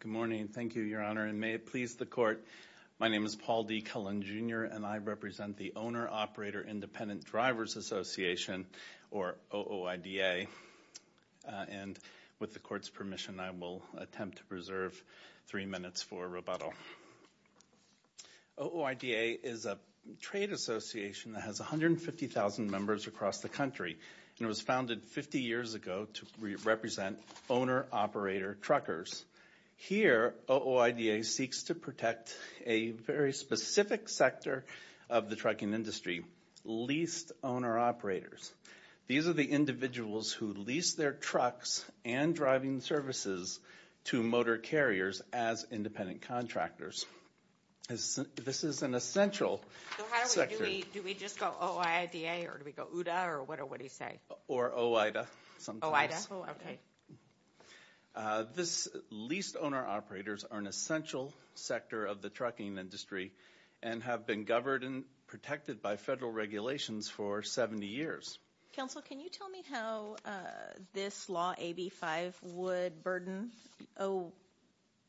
Good morning. Thank you, Your Honor. And may it please the Court, my name is Paul D. Cullen, Jr. and I represent the Owner-Operator Independent Drivers Association, or OOIDA. And with the Court's permission, I will attempt to preserve three minutes for rebuttal. OOIDA is a trade association that has 150,000 members across the country and was founded 50 years ago to represent owner-operator truckers. Here OOIDA seeks to protect a very specific sector of the trucking industry, leased owner-operators. These are the individuals who lease their trucks and driving services to motor carriers as independent contractors. This is an essential sector. So how do we, do we just go OOIDA or do we go OODA or what do we say? Or OOIDA. Oh, okay. This leased owner-operators are an essential sector of the trucking industry and have been governed and protected by federal regulations for 70 years. Counsel, can you tell me how this law, AB 5, would burden OOIDA?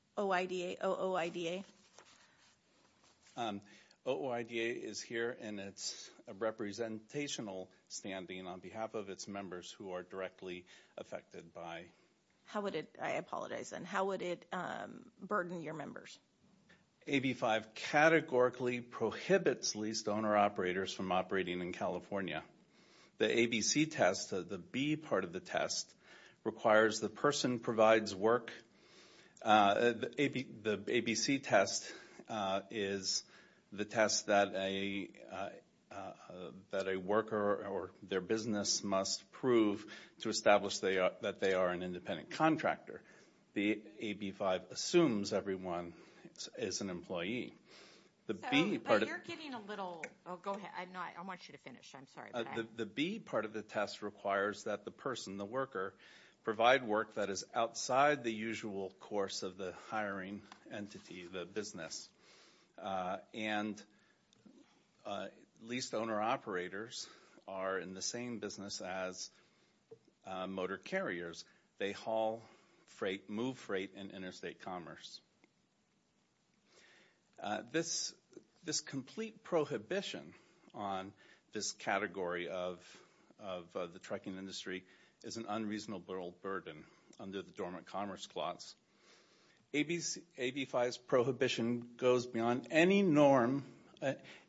OOIDA is here in its representational standing on behalf of its members who are directly affected by. How would it, I apologize, and how would it burden your members? AB 5 categorically prohibits leased owner-operators from operating in California. The ABC test, the B part of the test, requires the person provides work, the ABC test is the test that a, that a worker or their business must prove to establish that they are an independent contractor. The AB 5 assumes everyone is an employee. The B part of- I have a little, oh go ahead, I want you to finish, I'm sorry. The B part of the test requires that the person, the worker, provide work that is outside the usual course of the hiring entity, the business. And leased owner-operators are in the same business as motor carriers. They haul freight, move freight in interstate commerce. This, this complete prohibition on this category of the trucking industry is an unreasonable burden under the Dormant Commerce Clause. AB 5's prohibition goes beyond any norm,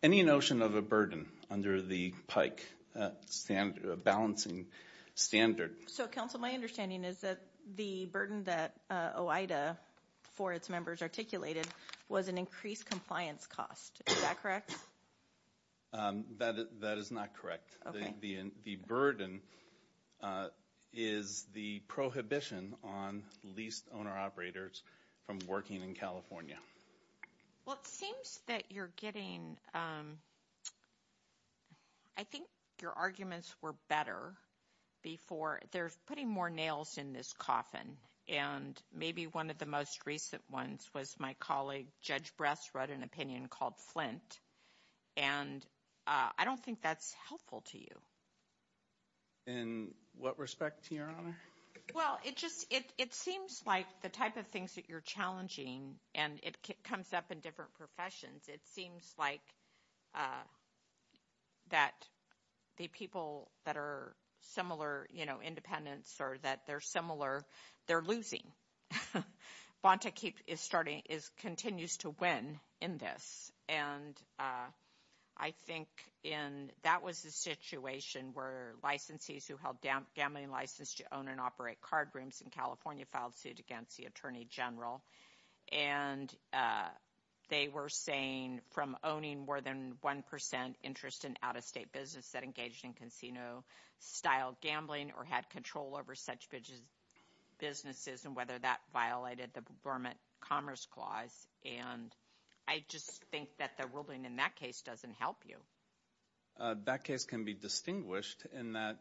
any notion of a burden under the PIKE balancing standard. So Council, my understanding is that the burden that OIDA for its members articulated was an increased compliance cost, is that correct? That is not correct. Okay. The burden is the prohibition on leased owner-operators from working in California. Well, it seems that you're getting, I think your arguments were better before. There's putting more nails in this coffin, and maybe one of the most recent ones was my colleague Judge Bress wrote an opinion called Flint, and I don't think that's helpful to you. In what respect, Your Honor? Well, it just, it seems like the type of things that you're challenging, and it comes up in different professions, it seems like that the people that are similar, you know, independents or that they're similar, they're losing. Bonta Keep is starting, continues to win in this, and I think in, that was the situation where licensees who held gambling license to own and operate card rooms in California filed suit against the Attorney General, and they were saying from owning more than 1 percent interest in out-of-state business that engaged in casino-style gambling or had control over such businesses and whether that violated the Burma Commerce Clause, and I just think that the ruling in that case doesn't help you. That case can be distinguished in that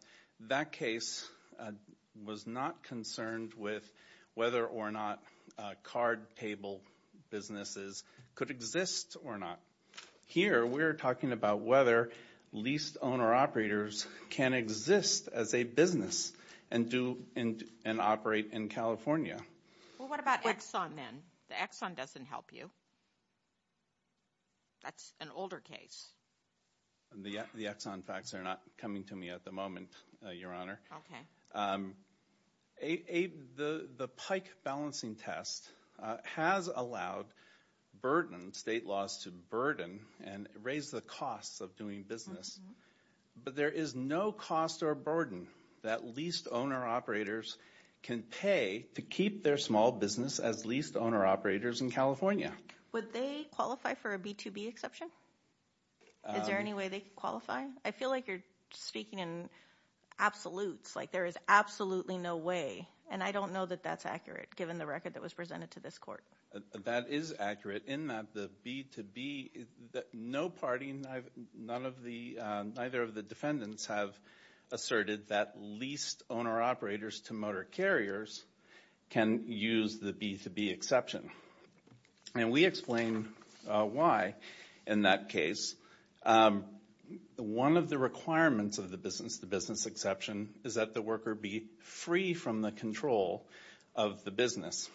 that case was not concerned with whether or not card table businesses could exist or not. Here we're talking about whether leased owner-operators can exist as a business and do, and operate in California. Well, what about Exxon then? The Exxon doesn't help you. That's an older case. The Exxon facts are not coming to me at the moment, Your Honor. The Pike balancing test has allowed burden, state laws to burden and raise the costs of doing business, but there is no cost or burden that leased owner-operators can pay to keep their small business as leased owner-operators in California. Would they qualify for a B-to-B exception? Is there any way they could qualify? I feel like you're speaking in absolutes, like there is absolutely no way, and I don't know that that's accurate given the record that was presented to this Court. That is accurate in that the B-to-B, no party, neither of the defendants have asserted that leased owner-operators to motor carriers can use the B-to-B exception. And we explain why in that case. One of the requirements of the business-to-business exception is that the worker be free from the control of the business.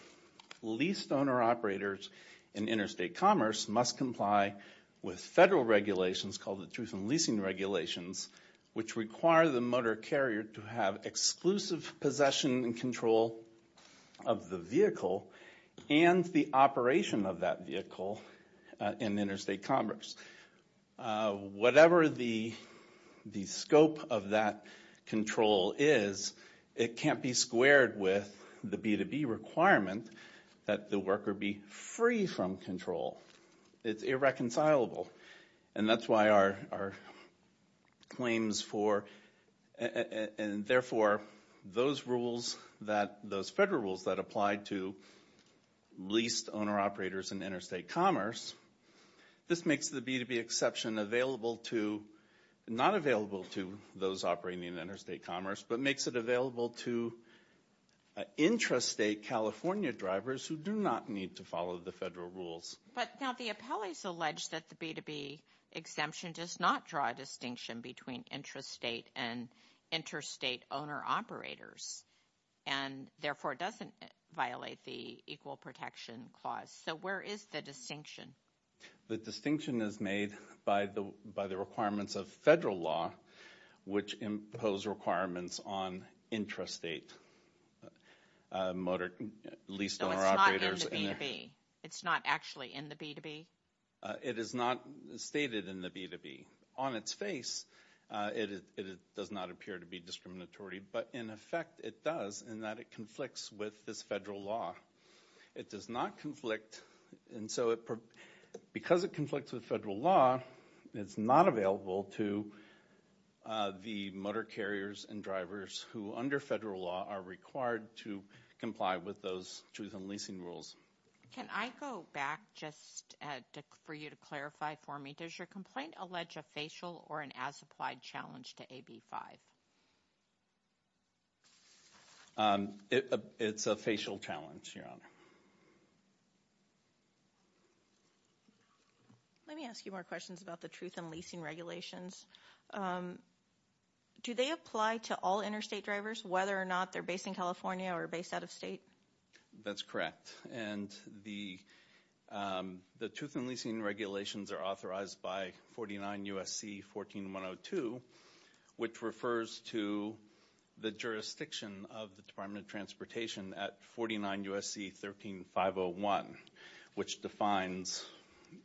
Leased owner-operators in interstate commerce must comply with federal regulations called the Truth in Leasing Regulations, which require the motor carrier to have exclusive possession and control of the vehicle and the operation of that vehicle in interstate commerce. Whatever the scope of that control is, it can't be squared with the B-to-B requirement that the worker be free from control. It's irreconcilable. And that's why our claims for, and therefore, those rules that, those federal rules that apply to leased owner-operators in interstate commerce, this makes the B-to-B exception available to, not available to those operating in interstate commerce, but makes it available to intrastate California drivers who do not need to follow the federal rules. But now, the appellees allege that the B-to-B exemption does not draw a distinction between intrastate and interstate owner-operators, and therefore, doesn't violate the Equal Protection Clause. So where is the distinction? The distinction is made by the, by the requirements of federal law, which impose requirements on intrastate motor, leased owner-operators. So it's not in the B-to-B? It's not actually in the B-to-B? It is not stated in the B-to-B. On its face, it does not appear to be discriminatory, but in effect, it does, in that it conflicts with this federal law. It does not conflict, and so it, because it conflicts with federal law, it's not available to the motor carriers and drivers who, under federal law, are required to comply with those truth-in-leasing rules. Can I go back, just for you to clarify for me, does your complaint allege a facial or an as-applied challenge to AB 5? It's a facial challenge, Your Honor. Let me ask you more questions about the truth-in-leasing regulations. Do they apply to all interstate drivers, whether or not they're based in California or based out of state? That's correct, and the truth-in-leasing regulations are authorized by 49 U.S.C. 14-102, which refers to the jurisdiction of the Department of Transportation at 49 U.S.C. 13-501, which defines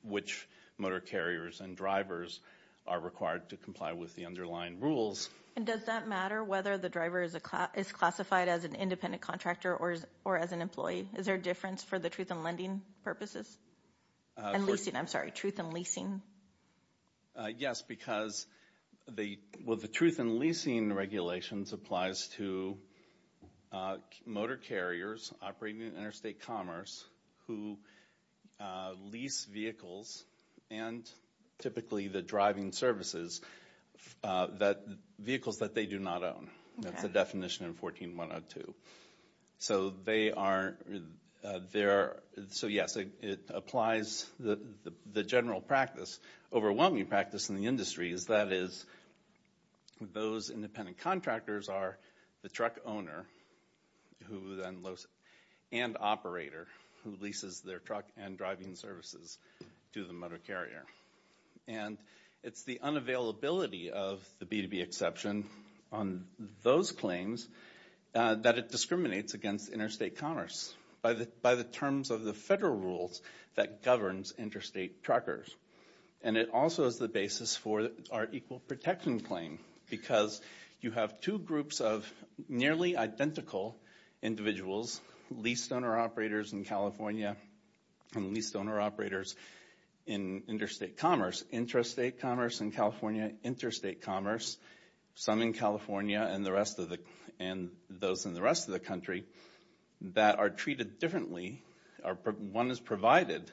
which motor carriers and drivers are required to comply with the underlying rules. And does that matter whether the driver is classified as an independent contractor or as an employee? Is there a difference for the truth-in-lending purposes? I'm sorry, truth-in-leasing? Yes, because the truth-in-leasing regulations applies to motor carriers operating in interstate commerce who lease vehicles, and typically the driving services, vehicles that they do not own. That's the definition in 14-102. So yes, it applies. The general practice, overwhelming practice in the industry, is that those independent contractors are the truck owner and operator who leases their truck and driving services to the motor carrier. And it's the unavailability of the B2B exception on those claims that it discriminates against interstate commerce by the terms of the federal rules that governs interstate truckers. And it also is the basis for our equal protection claim, because you have two groups of nearly identical individuals, leased-owner operators in California and leased-owner operators in interstate commerce, intrastate commerce in California, interstate commerce, some in California and those in the rest of the country, that are treated differently. One has provided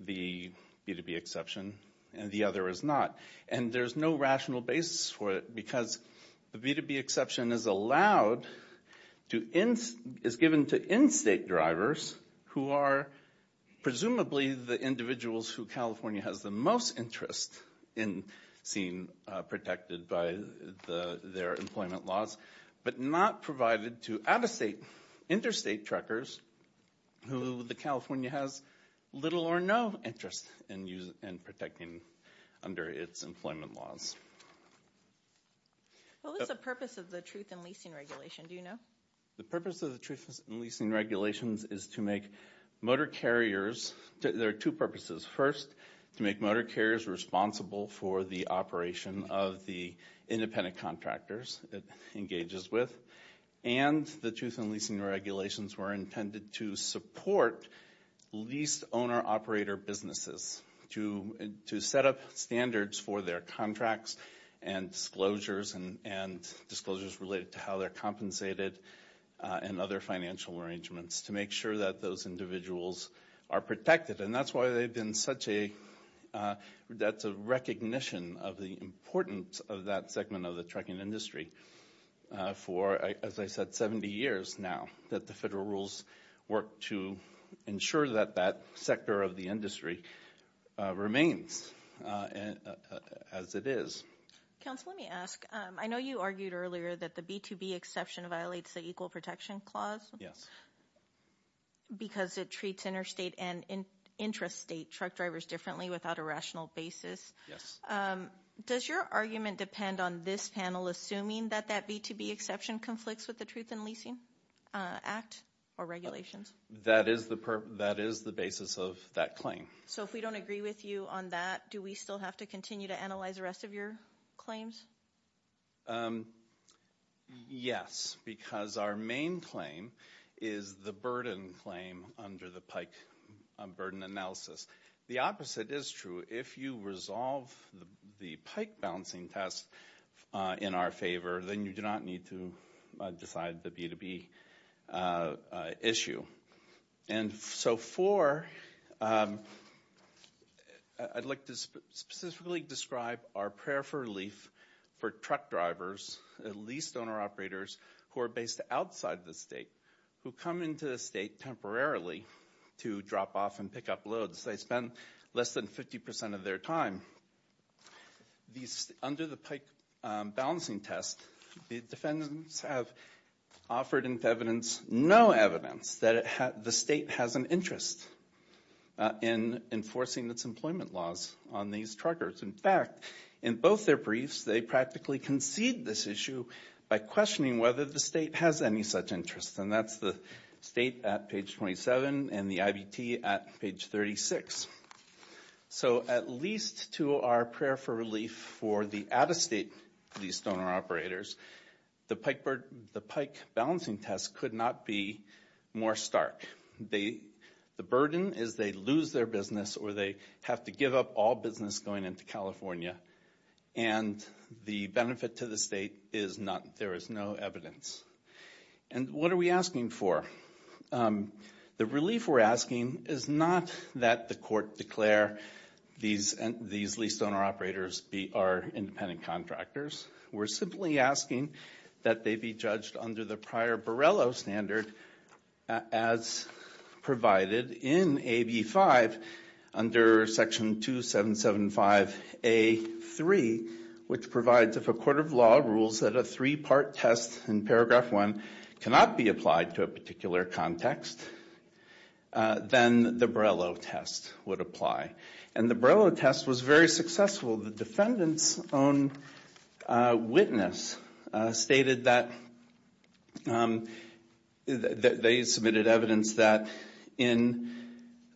the B2B exception and the other has not. And there's no rational basis for it, because the B2B exception is allowed to, is given to in-state drivers who are presumably the individuals who California has the most interest in seeing protected by their employment laws, but not provided to out-of-state, interstate truckers who California has little or no interest in protecting under its employment laws. What was the purpose of the Truth in Leasing Regulations, do you know? The purpose of the Truth in Leasing Regulations is to make motor carriers, there are two purposes. First, to make motor carriers responsible for the operation of the independent contractors it engages with. And the Truth in Leasing Regulations were intended to support leased-owner operator businesses to set up standards for their contracts and disclosures and disclosures related to how they're compensated and other financial arrangements to make sure that those individuals are protected. And that's why they've been such a, that's a recognition of the importance of that segment of the trucking industry for, as I said, 70 years now, that the federal rules work to ensure that that sector of the industry remains as it is. Council, let me ask, I know you argued earlier that the B2B exception violates the Equal Protection Clause because it treats interstate and intrastate truck drivers differently without a rational basis. Yes. Does your argument depend on this panel assuming that that B2B exception conflicts with the Truth in Leasing Act or regulations? That is the purpose, that is the basis of that claim. So if we don't agree with you on that, do we still have to continue to analyze the rest of your claims? Yes, because our main claim is the burden claim under the PIKE burden analysis. The opposite is true. If you resolve the PIKE balancing test in our favor, then you do not need to decide the B2B issue. And so for, I'd like to specifically describe our prayer for relief for truck drivers, leased owner operators who are based outside the state, who come into the state temporarily to drop off and pick up loads. They spend less than 50% of their time. Under the PIKE balancing test, the defendants have offered into evidence no evidence that the state has an interest in enforcing its employment laws on these truckers. In fact, in both their briefs, they practically concede this issue by questioning whether the state has any such interest. And that's the state at page 27 and the IBT at page 36. So at least to our prayer for relief for the out-of-state leased owner operators, the PIKE balancing test could not be more stark. The burden is they lose their business or they have to give up all business going into California and the benefit to the state is not, there is no evidence. And what are we asking for? The relief we're asking is not that the court declare these leased owner operators are independent contractors. We're simply asking that they be judged under the prior Borrello standard as provided in AB 5 under section 2775A3, which provides if a court of law rules that a three-part test in paragraph one cannot be applied to a particular context, then the Borrello test would apply. And the Borrello test was very successful. The defendant's own witness stated that they submitted evidence that in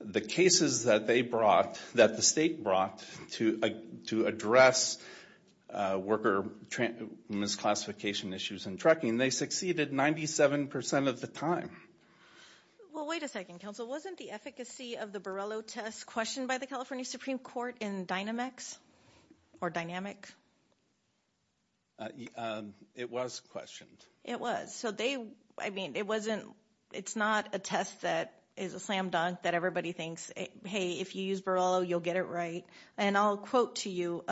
the cases that they brought, that the state brought to address worker misclassification issues in trucking, they succeeded 97% of the time. Well, wait a second, counsel. Wasn't the efficacy of the Borrello test questioned by the California Supreme Court in Dynamex or Dynamic? It was questioned. It was. So they, I mean, it wasn't, it's not a test that is a slam dunk that everybody thinks, hey, if you use Borrello, you'll get it right. And I'll quote to you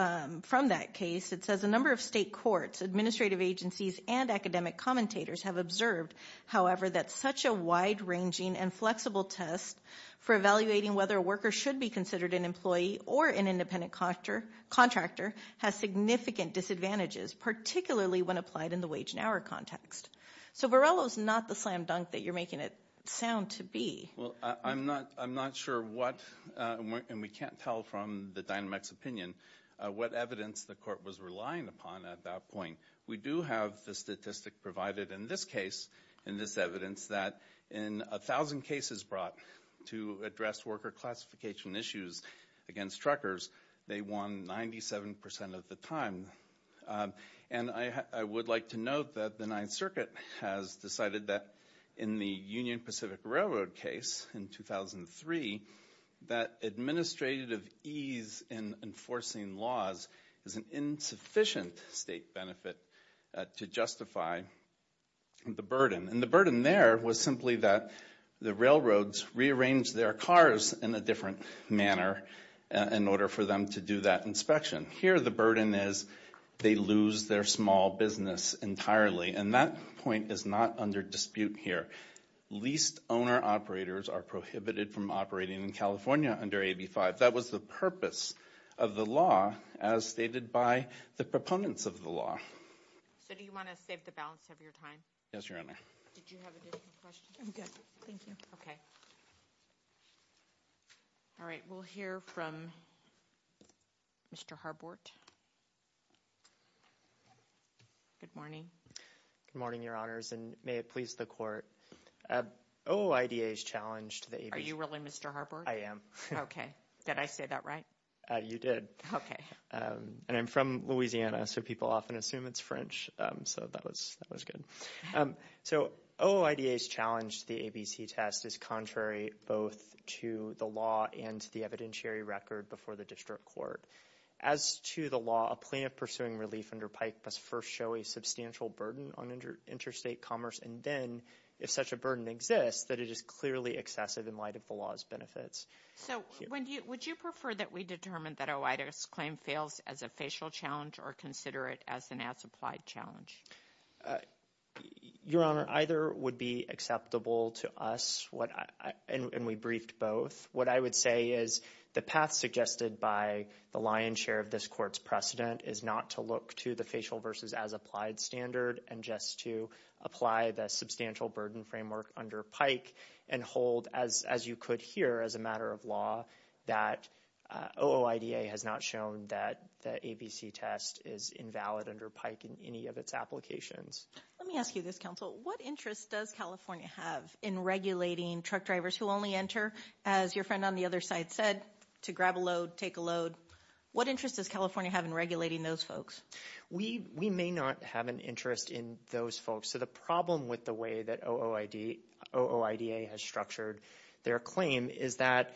from that case. It says, a number of state courts, administrative agencies, and academic commentators have observed, however, that such a wide-ranging and flexible test for evaluating whether a worker should be considered an employee or an independent contractor has significant disadvantages, particularly when applied in the wage and hour context. So Borrello's not the slam dunk that you're making it sound to be. Well, I'm not sure what, and we can't tell from the Dynamex opinion, what evidence the court was relying upon at that point. We do have the statistic provided in this case, in this evidence, that in 1,000 cases brought to address worker classification issues against truckers, they won 97% of the time. And I would like to note that the Ninth Circuit has decided that in the Union Pacific Railroad case in 2003, that administrative ease in enforcing laws is an insufficient state benefit to justify the burden. And the burden there was simply that the railroads rearranged their cars in a different manner in order for them to do that inspection. Here the burden is they lose their small business entirely. And that point is not under dispute here. Leased owner-operators are prohibited from operating in California under AB 5. That was the purpose of the law as stated by the proponents of the law. So do you want to save the balance of your time? Yes, Your Honor. Did you have a different question? I'm good. Thank you. Okay. All right. We'll hear from Mr. Harbort. Good morning. Good morning, Your Honors, and may it please the Court. OIDA has challenged the AB... Are you really Mr. Harbort? I am. Okay. Did I say that right? You did. Okay. And I'm from Louisiana, so people often assume it's French. So that was good. So OIDA's challenge to the ABC test is contrary both to the law and to the evidentiary record before the district court. As to the law, a plaintiff pursuing relief under Pike must first show a substantial burden on interstate commerce, and then, if such a burden exists, that it is clearly excessive in light of the law's benefits. So would you prefer that we determine that OIDA's claim fails as a facial challenge or consider it as an as-applied challenge? Your Honor, either would be acceptable to us, and we briefed both. What I would say is the path suggested by the lion's share of this Court's precedent is not to look to the facial versus as-applied standard and just to apply the substantial burden framework under Pike and hold, as you could hear as a matter of law, that OIDA has not shown that the ABC test is invalid under Pike in any of its applications. Let me ask you this, counsel. What interest does California have in regulating truck drivers who only enter, as your friend on the other side said, to grab a load, take a load? What interest does California have in regulating those folks? We may not have an interest in those folks. So the problem with the way that OIDA has structured their claim is that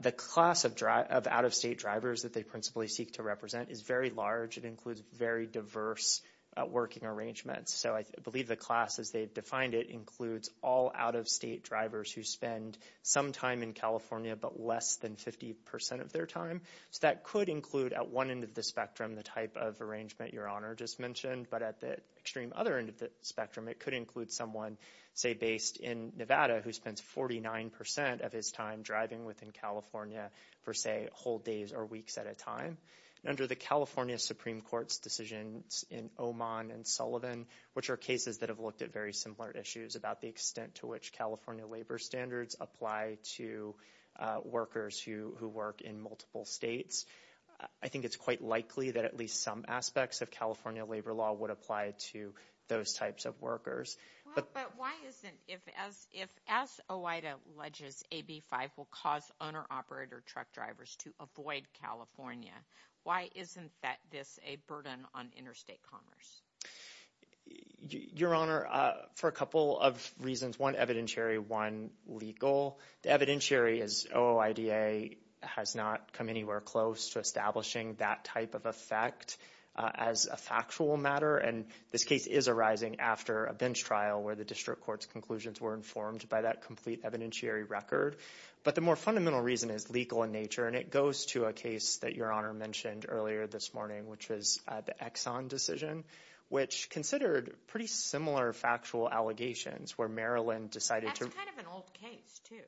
the class of out-of-state drivers that they principally seek to represent is very large. It includes very diverse working arrangements. So I believe the class, as they've defined it, includes all out-of-state drivers who spend some time in California but less than 50% of their time. So that could include, at one end of the spectrum, the type of arrangement your Honor just mentioned, but at the extreme other end of the spectrum, it could include someone, say, based in Nevada who spends 49% of his time driving within California for, say, whole days or weeks at a time. And under the California Supreme Court's decisions in Oman and Sullivan, which are cases that have looked at very similar issues about the extent to which California labor standards apply to workers who work in multiple states, I think it's quite likely that at least some aspects of California labor law would apply to those types of workers. Well, but why isn't, if as OIDA alleges, AB 5 will cause owner-operator truck drivers to avoid California, why isn't this a burden on interstate commerce? Your Honor, for a couple of reasons, one evidentiary, one legal. The evidentiary is OIDA has not come anywhere close to establishing that type of effect as a factual matter, and this case is arising after a bench trial where the district court's conclusions were informed by that complete evidentiary record. But the more fundamental reason is legal in nature, and it goes to a case that Your Honor mentioned earlier this morning, which was the Exxon decision, which considered pretty similar factual allegations, where Maryland decided to- It's kind of an old case, too.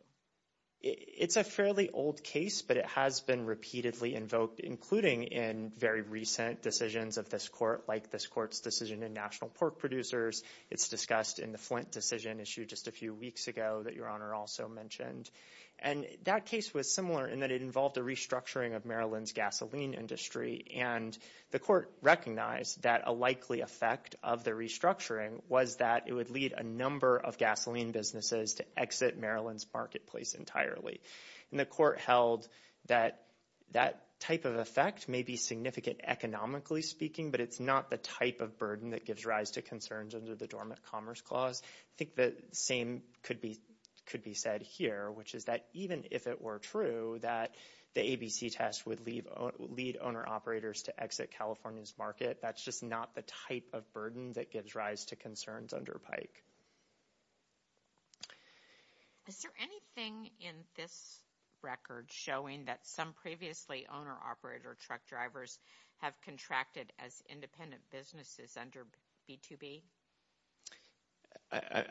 It's a fairly old case, but it has been repeatedly invoked, including in very recent decisions of this court, like this court's decision in National Pork Producers. It's discussed in the Flint decision issue just a few weeks ago that Your Honor also mentioned. And that case was similar in that it involved a restructuring of Maryland's gasoline industry, and the court recognized that a likely effect of the restructuring was that it would lead a number of gasoline businesses to exit Maryland's marketplace entirely. And the court held that that type of effect may be significant economically speaking, but it's not the type of burden that gives rise to concerns under the Dormant Commerce Clause. I think the same could be said here, which is that even if it were true that the ABC test would lead owner-operators to exit California's market, that's just not the type of burden that gives rise to concerns under PIKE. Is there anything in this record showing that some previously owner-operator truck drivers have contracted as independent businesses under B2B?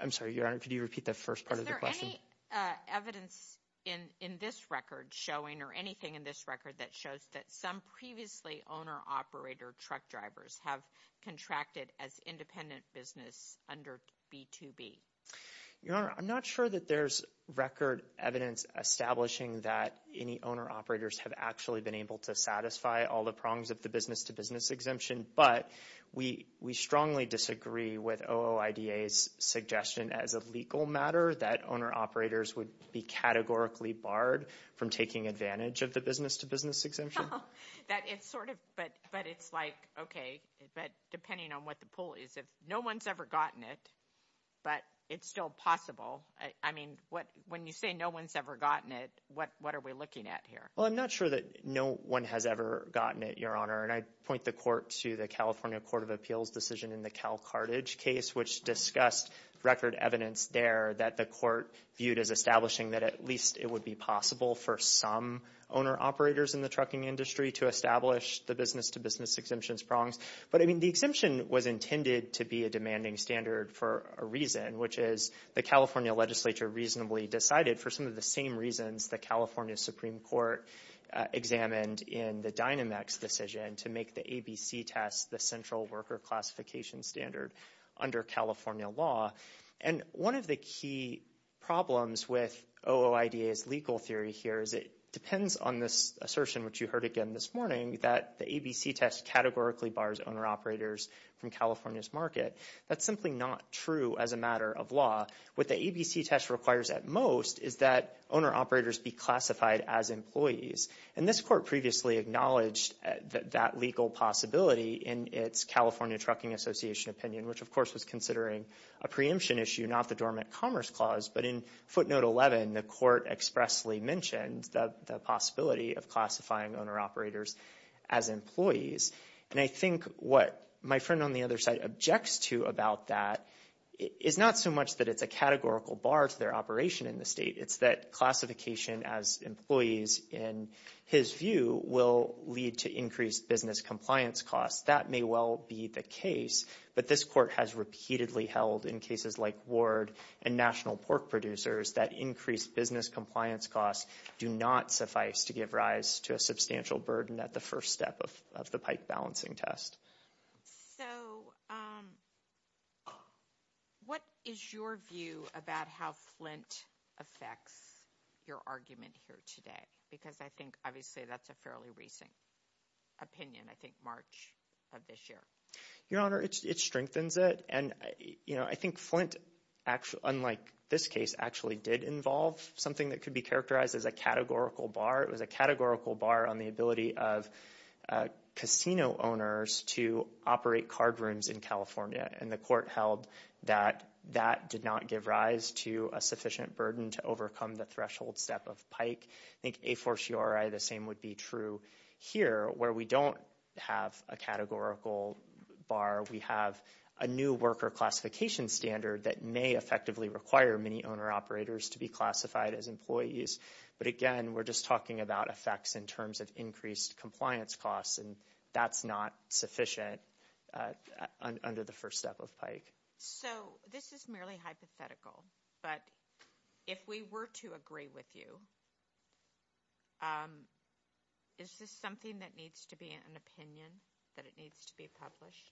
I'm sorry, Your Honor, could you repeat the first part of the question? Is there any evidence in this record showing, or anything in this record that shows that some previously owner-operator truck drivers have contracted as independent business under B2B? Your Honor, I'm not sure that there's record evidence establishing that any owner-operators have actually been able to satisfy all the prongs of the business-to-business exemption, but we strongly disagree with OOIDA's suggestion as a legal matter that owner-operators would be categorically barred from taking advantage of the business-to-business exemption. It's sort of, but it's like, okay, but depending on what the pull is, if no one's ever gotten it, but it's still possible, I mean, when you say no one's ever gotten it, what are we looking at here? Well, I'm not sure that no one has ever gotten it, Your Honor, and I'd point the court to the California Court of Appeals decision in the CalCartage case, which discussed record evidence there that the court viewed as establishing that at least it would be possible for some owner-operators in the trucking industry to establish the business-to-business exemptions prongs. But I mean, the exemption was intended to be a demanding standard for a reason, which is the California legislature reasonably decided for some of the same reasons the California Supreme Court examined in the Dynamex decision to make the ABC test the central worker classification standard under California law. And one of the key problems with OOIDA's legal theory here is it depends on this assertion, which you heard again this morning, that the ABC test categorically bars owner-operators from California's market. That's simply not true as a matter of law. What the ABC test requires at most is that owner-operators be classified as employees. And this court previously acknowledged that legal possibility in its California Trucking Association opinion, which of course was considering a preemption issue, not the dormant commerce clause. But in footnote 11, the court expressly mentioned the possibility of classifying owner-operators as employees. And I think what my friend on the other side objects to about that is not so much that it's a categorical bar to their operation in the state. It's that classification as employees, in his view, will lead to increased business compliance costs. That may well be the case, but this court has repeatedly held in cases like Ward and National Pork Producers that increased business compliance costs do not suffice to give rise to a substantial burden at the first step of the pike balancing test. So what is your view about how Flint affects your argument here today? Because I think obviously that's a fairly recent opinion, I think March of this year. Your Honor, it strengthens it. And I think Flint, unlike this case, actually did involve something that could be characterized as a categorical bar. It was a categorical bar on the ability of casino owners to operate card rooms in California. And the court held that that did not give rise to a sufficient burden to overcome the threshold step of pike. I think a for sure, the same would be true here where we don't have a categorical bar. We have a new worker classification standard that may effectively require many owner operators to be classified as employees. But again, we're just talking about effects in terms of increased compliance costs, and that's not sufficient under the first step of pike. So this is merely hypothetical, but if we were to agree with you, is this something that needs to be an opinion, that it needs to be published?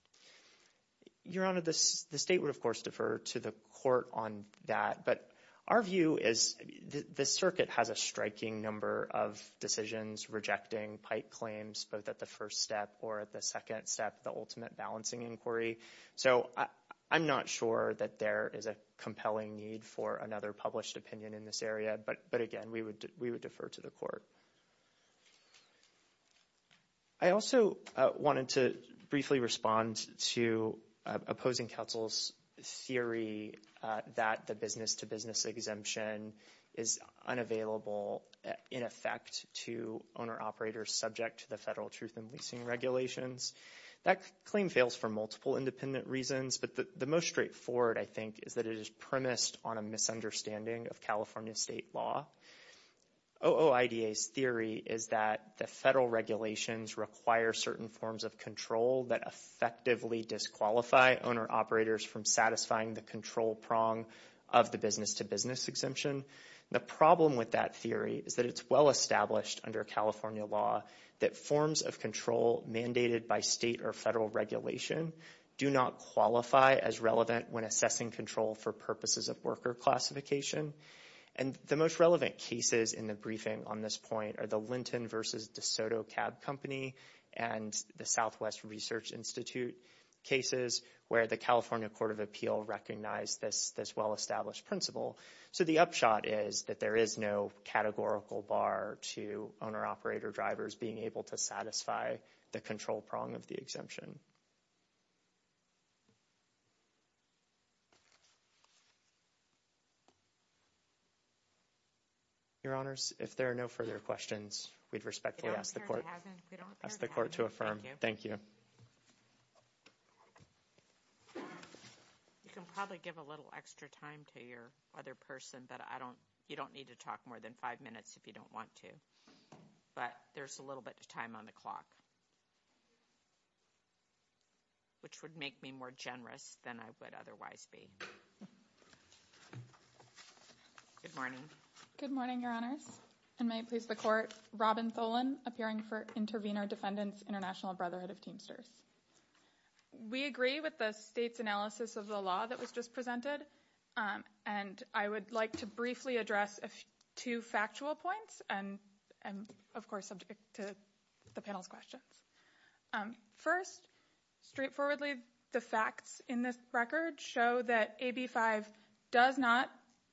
Your Honor, the state would, of course, defer to the court on that. But our view is the circuit has a striking number of decisions rejecting pike claims both at the first step or at the second step, the ultimate balancing inquiry. So I'm not sure that there is a compelling need for another published opinion in this area, but again, we would defer to the court. I also wanted to briefly respond to opposing counsel's theory that the business-to-business exemption is unavailable in effect to owner operators subject to the federal truth and leasing regulations. That claim fails for multiple independent reasons, but the most straightforward, I think, is that it is premised on a misunderstanding of California state law. OOIDA's theory is that the federal regulations require certain forms of control that effectively disqualify owner operators from satisfying the control prong of the business-to-business exemption. The problem with that theory is that it's well established under California law that the forms of control mandated by state or federal regulation do not qualify as relevant when assessing control for purposes of worker classification. And the most relevant cases in the briefing on this point are the Linton v. DeSoto Cab Company and the Southwest Research Institute cases where the California Court of Appeal recognized this well-established principle. So the upshot is that there is no categorical bar to owner-operator drivers being able to satisfy the control prong of the exemption. Your Honors, if there are no further questions, we'd respectfully ask the court to affirm. Thank you. You can probably give a little extra time to your other person, but you don't need to talk more than five minutes if you don't want to. But there's a little bit of time on the clock. Which would make me more generous than I would otherwise be. Good morning. Good morning, Your Honors. And may it please the court, Robin Tholen, appearing for Intervenor Defendants International Brotherhood of Teamsters. We agree with the state's analysis of the law that was just presented, and I would like to briefly address two factual points and, of course, subject to the panel's questions. First, straightforwardly, the facts in this record show that AB 5 does not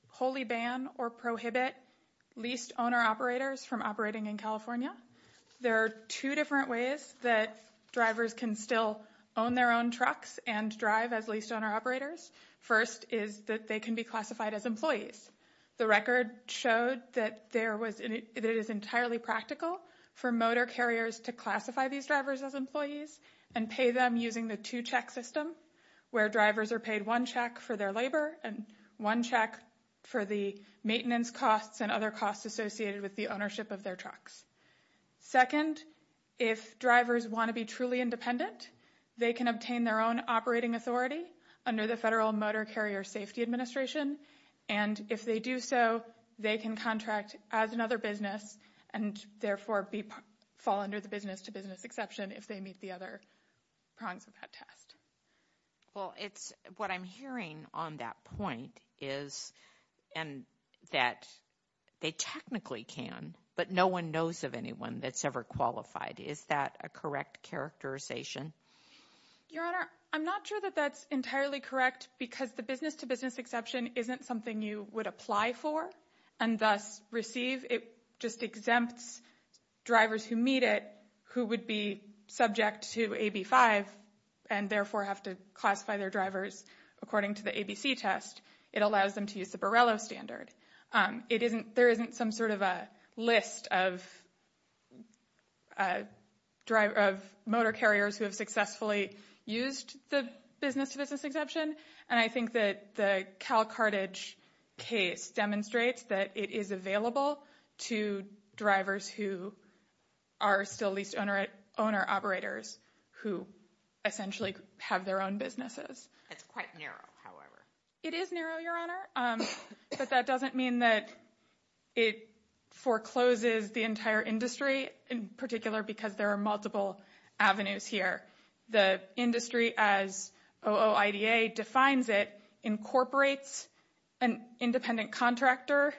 wholly ban or prohibit leased owner-operators from operating in California. There are two different ways that drivers can still own their own trucks and drive as leased owner-operators. First is that they can be classified as employees. The record showed that it is entirely practical for motor carriers to classify these drivers as employees and pay them using the two-check system, where drivers are paid one check for their labor and one check for the maintenance costs and other costs associated with the ownership of their trucks. Second, if drivers want to be truly independent, they can obtain their own operating authority under the Federal Motor Carrier Safety Administration, and if they do so, they can contract as another business and therefore fall under the business-to-business exception if they meet the other prongs of that test. Well, what I'm hearing on that point is that they technically can, but no one knows of anyone that's ever qualified. Is that a correct characterization? Your Honor, I'm not sure that that's entirely correct because the business-to-business exception isn't something you would apply for and thus receive. It just exempts drivers who meet it who would be subject to AB5 and therefore have to classify their drivers according to the ABC test. It allows them to use the Borrello standard. There isn't some sort of a list of motor carriers who have successfully used the business-to-business exception, and I think that the Cal Carthage case demonstrates that it is available to drivers who are still lease-to-owner operators who essentially have their own businesses. It's quite narrow, however. It is narrow, Your Honor, but that doesn't mean that it forecloses the entire industry in particular because there are multiple avenues here. The industry, as OOIDA defines it, incorporates an independent contractor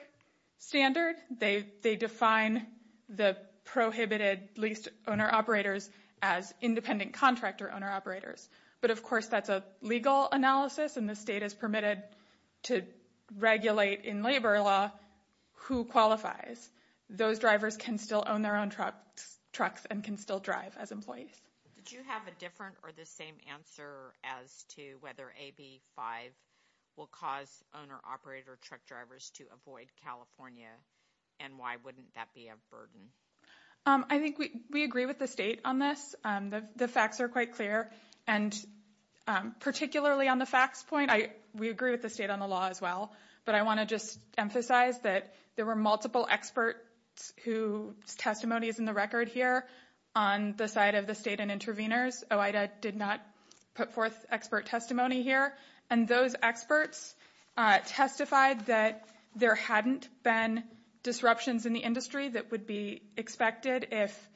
standard. They define the prohibited lease-to-owner operators as independent contractor-owner operators, but of course that's a legal analysis and the state is permitted to regulate in labor law who qualifies. Those drivers can still own their own trucks and can still drive as employees. Did you have a different or the same answer as to whether AB5 will cause owner-operator truck drivers to avoid California, and why wouldn't that be a burden? I think we agree with the state on this. The facts are quite clear, and particularly on the facts point, we agree with the state on the law as well, but I want to just emphasize that there were multiple experts whose testimony is in the record here on the side of the state and intervenors. OOIDA did not put forth expert testimony here, and those experts testified that there hadn't been disruptions in the industry that would be expected if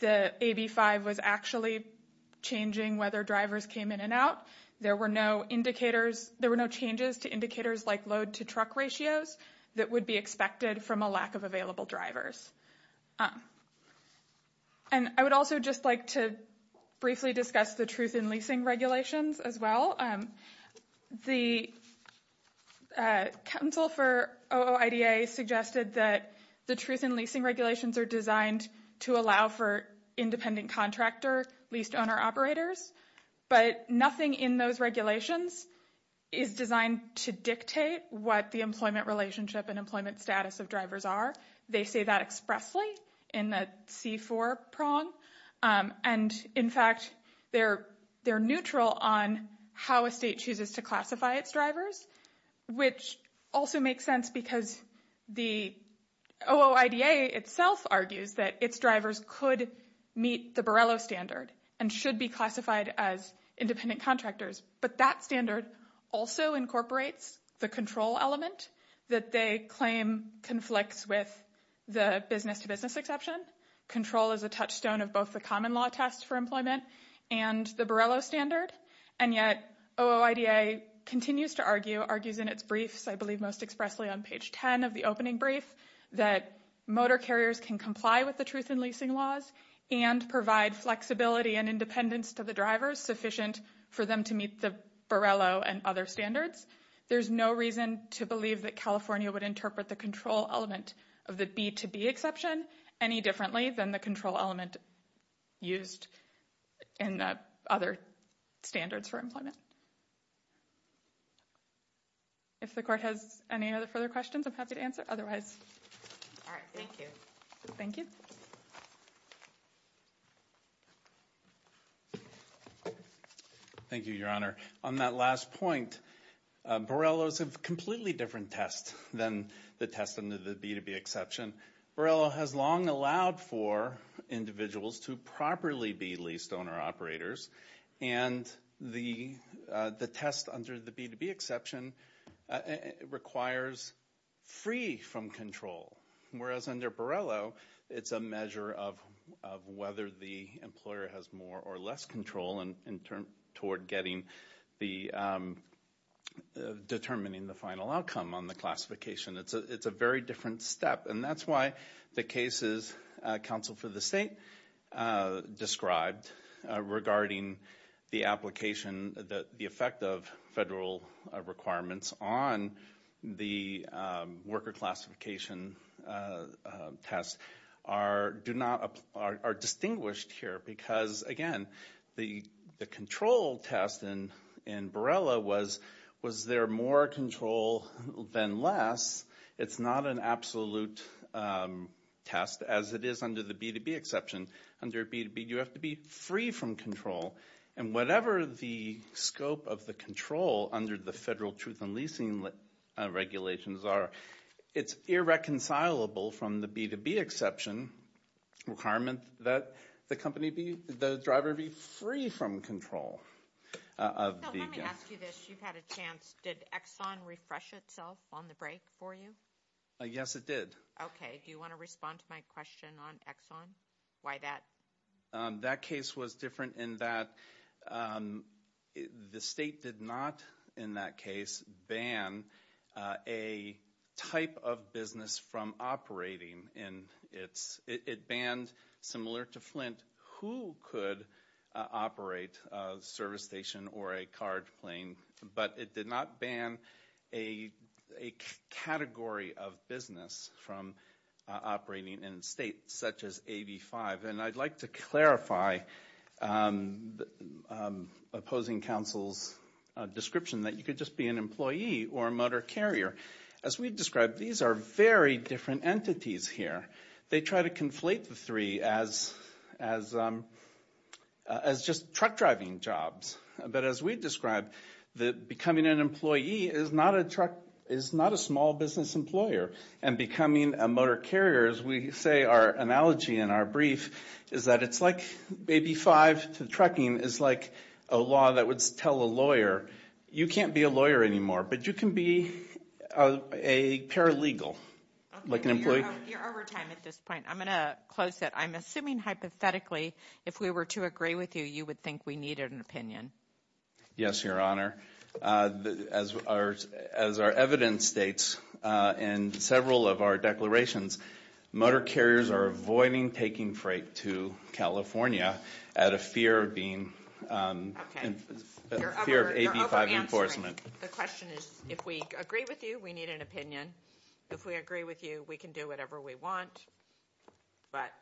the AB5 was actually changing whether drivers came in and out. There were no indicators, there were no changes to indicators like load-to-truck ratios that would be expected from a lack of available drivers. And I would also just like to briefly discuss the truth in leasing regulations as well. The counsel for OOIDA suggested that the truth in leasing regulations are designed to allow for independent contractor, leased owner-operators, but nothing in those regulations is designed to dictate what the employment relationship and employment status of drivers are. They say that expressly in the C4 prong, and in fact, they're neutral on how a state chooses to classify its drivers, which also makes sense because the OOIDA itself argues that its drivers could meet the Borrello standard and should be classified as independent contractors, but that standard also incorporates the control element that they claim conflicts with the business-to-business exception. Control is a touchstone of both the common law test for employment and the Borrello standard, and yet OOIDA continues to argue, argues in its briefs, I believe most expressly on page 10 of the opening brief, that motor carriers can comply with the truth in leasing laws and provide flexibility and independence to the drivers sufficient for them to meet the Borrello and other standards. There's no reason to believe that California would interpret the control element of the B-to-B exception any differently than the control element used in the other standards for employment. If the court has any other further questions, I'm happy to answer otherwise. All right, thank you. Thank you. Thank you, Your Honor. On that last point, Borrello's a completely different test than the test under the B-to-B exception. Borrello has long allowed for individuals to properly be leased-owner operators, and the test under the B-to-B exception requires free from control, whereas under Borrello, it's a measure of whether the employer has more or less control in term, toward getting the, determining the final outcome on the classification. It's a very different step, and that's why the cases counsel for the state described regarding the application, the effect of federal requirements on the worker classification test are, do not, are distinguished here. Because, again, the control test in Borrello was, was there more control than less? It's not an absolute test, as it is under the B-to-B exception. Under B-to-B, you have to be free from control. And whatever the scope of the control under the federal truth in leasing regulations are, it's irreconcilable from the B-to-B exception requirement that the company be, that the driver be free from control of the, yes. You've had a chance, did Exxon refresh itself on the break for you? Yes, it did. Okay, do you want to respond to my question on Exxon? Why that? That case was different in that the state did not, in that case, ban a type of business from operating in its, it banned, similar to Flint, who could operate a service station or a card plane. But it did not ban a, a category of business from operating in a state such as AB5. And I'd like to clarify opposing counsel's description that you could just be an employee or a motor carrier. As we've described, these are very different entities here. They try to conflate the three as, as, as just truck driving jobs. But as we've described, that becoming an employee is not a truck, is not a small business employer. And becoming a motor carrier, as we say, our analogy in our brief, is that it's like AB5 to trucking is like a law that would tell a lawyer, you can't be a lawyer anymore, but you can be a paralegal, like an employee. You're over time at this point. I'm going to close it. I'm assuming hypothetically, if we were to agree with you, you would think we needed an opinion. Yes, your honor. The, as our, as our evidence states in several of our declarations, motor carriers are avoiding taking freight to California out of fear of being. Okay, you're over, you're over answering. In fear of AB5 enforcement. The question is, if we agree with you, we need an opinion. And if we agree with you, we can do whatever we want, but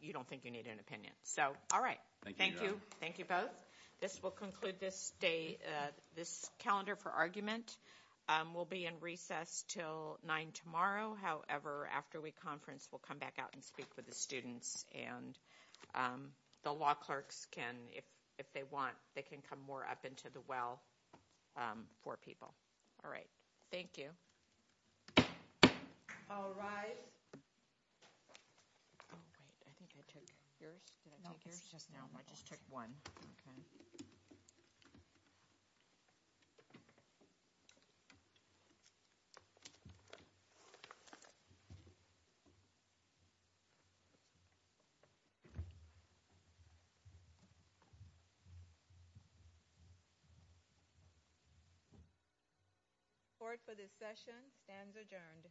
you don't think you need an opinion. So, all right. Thank you. Thank you both. This will conclude this day, this calendar for argument. We'll be in recess till nine tomorrow. However, after we conference, we'll come back out and speak with the students. And the law clerks can, if they want, they can come more up into the well for people. All right. Thank you. All rise. Oh, wait, I think I took yours. Did I take yours? Just now, I just took one. Okay. Support for this session stands adjourned.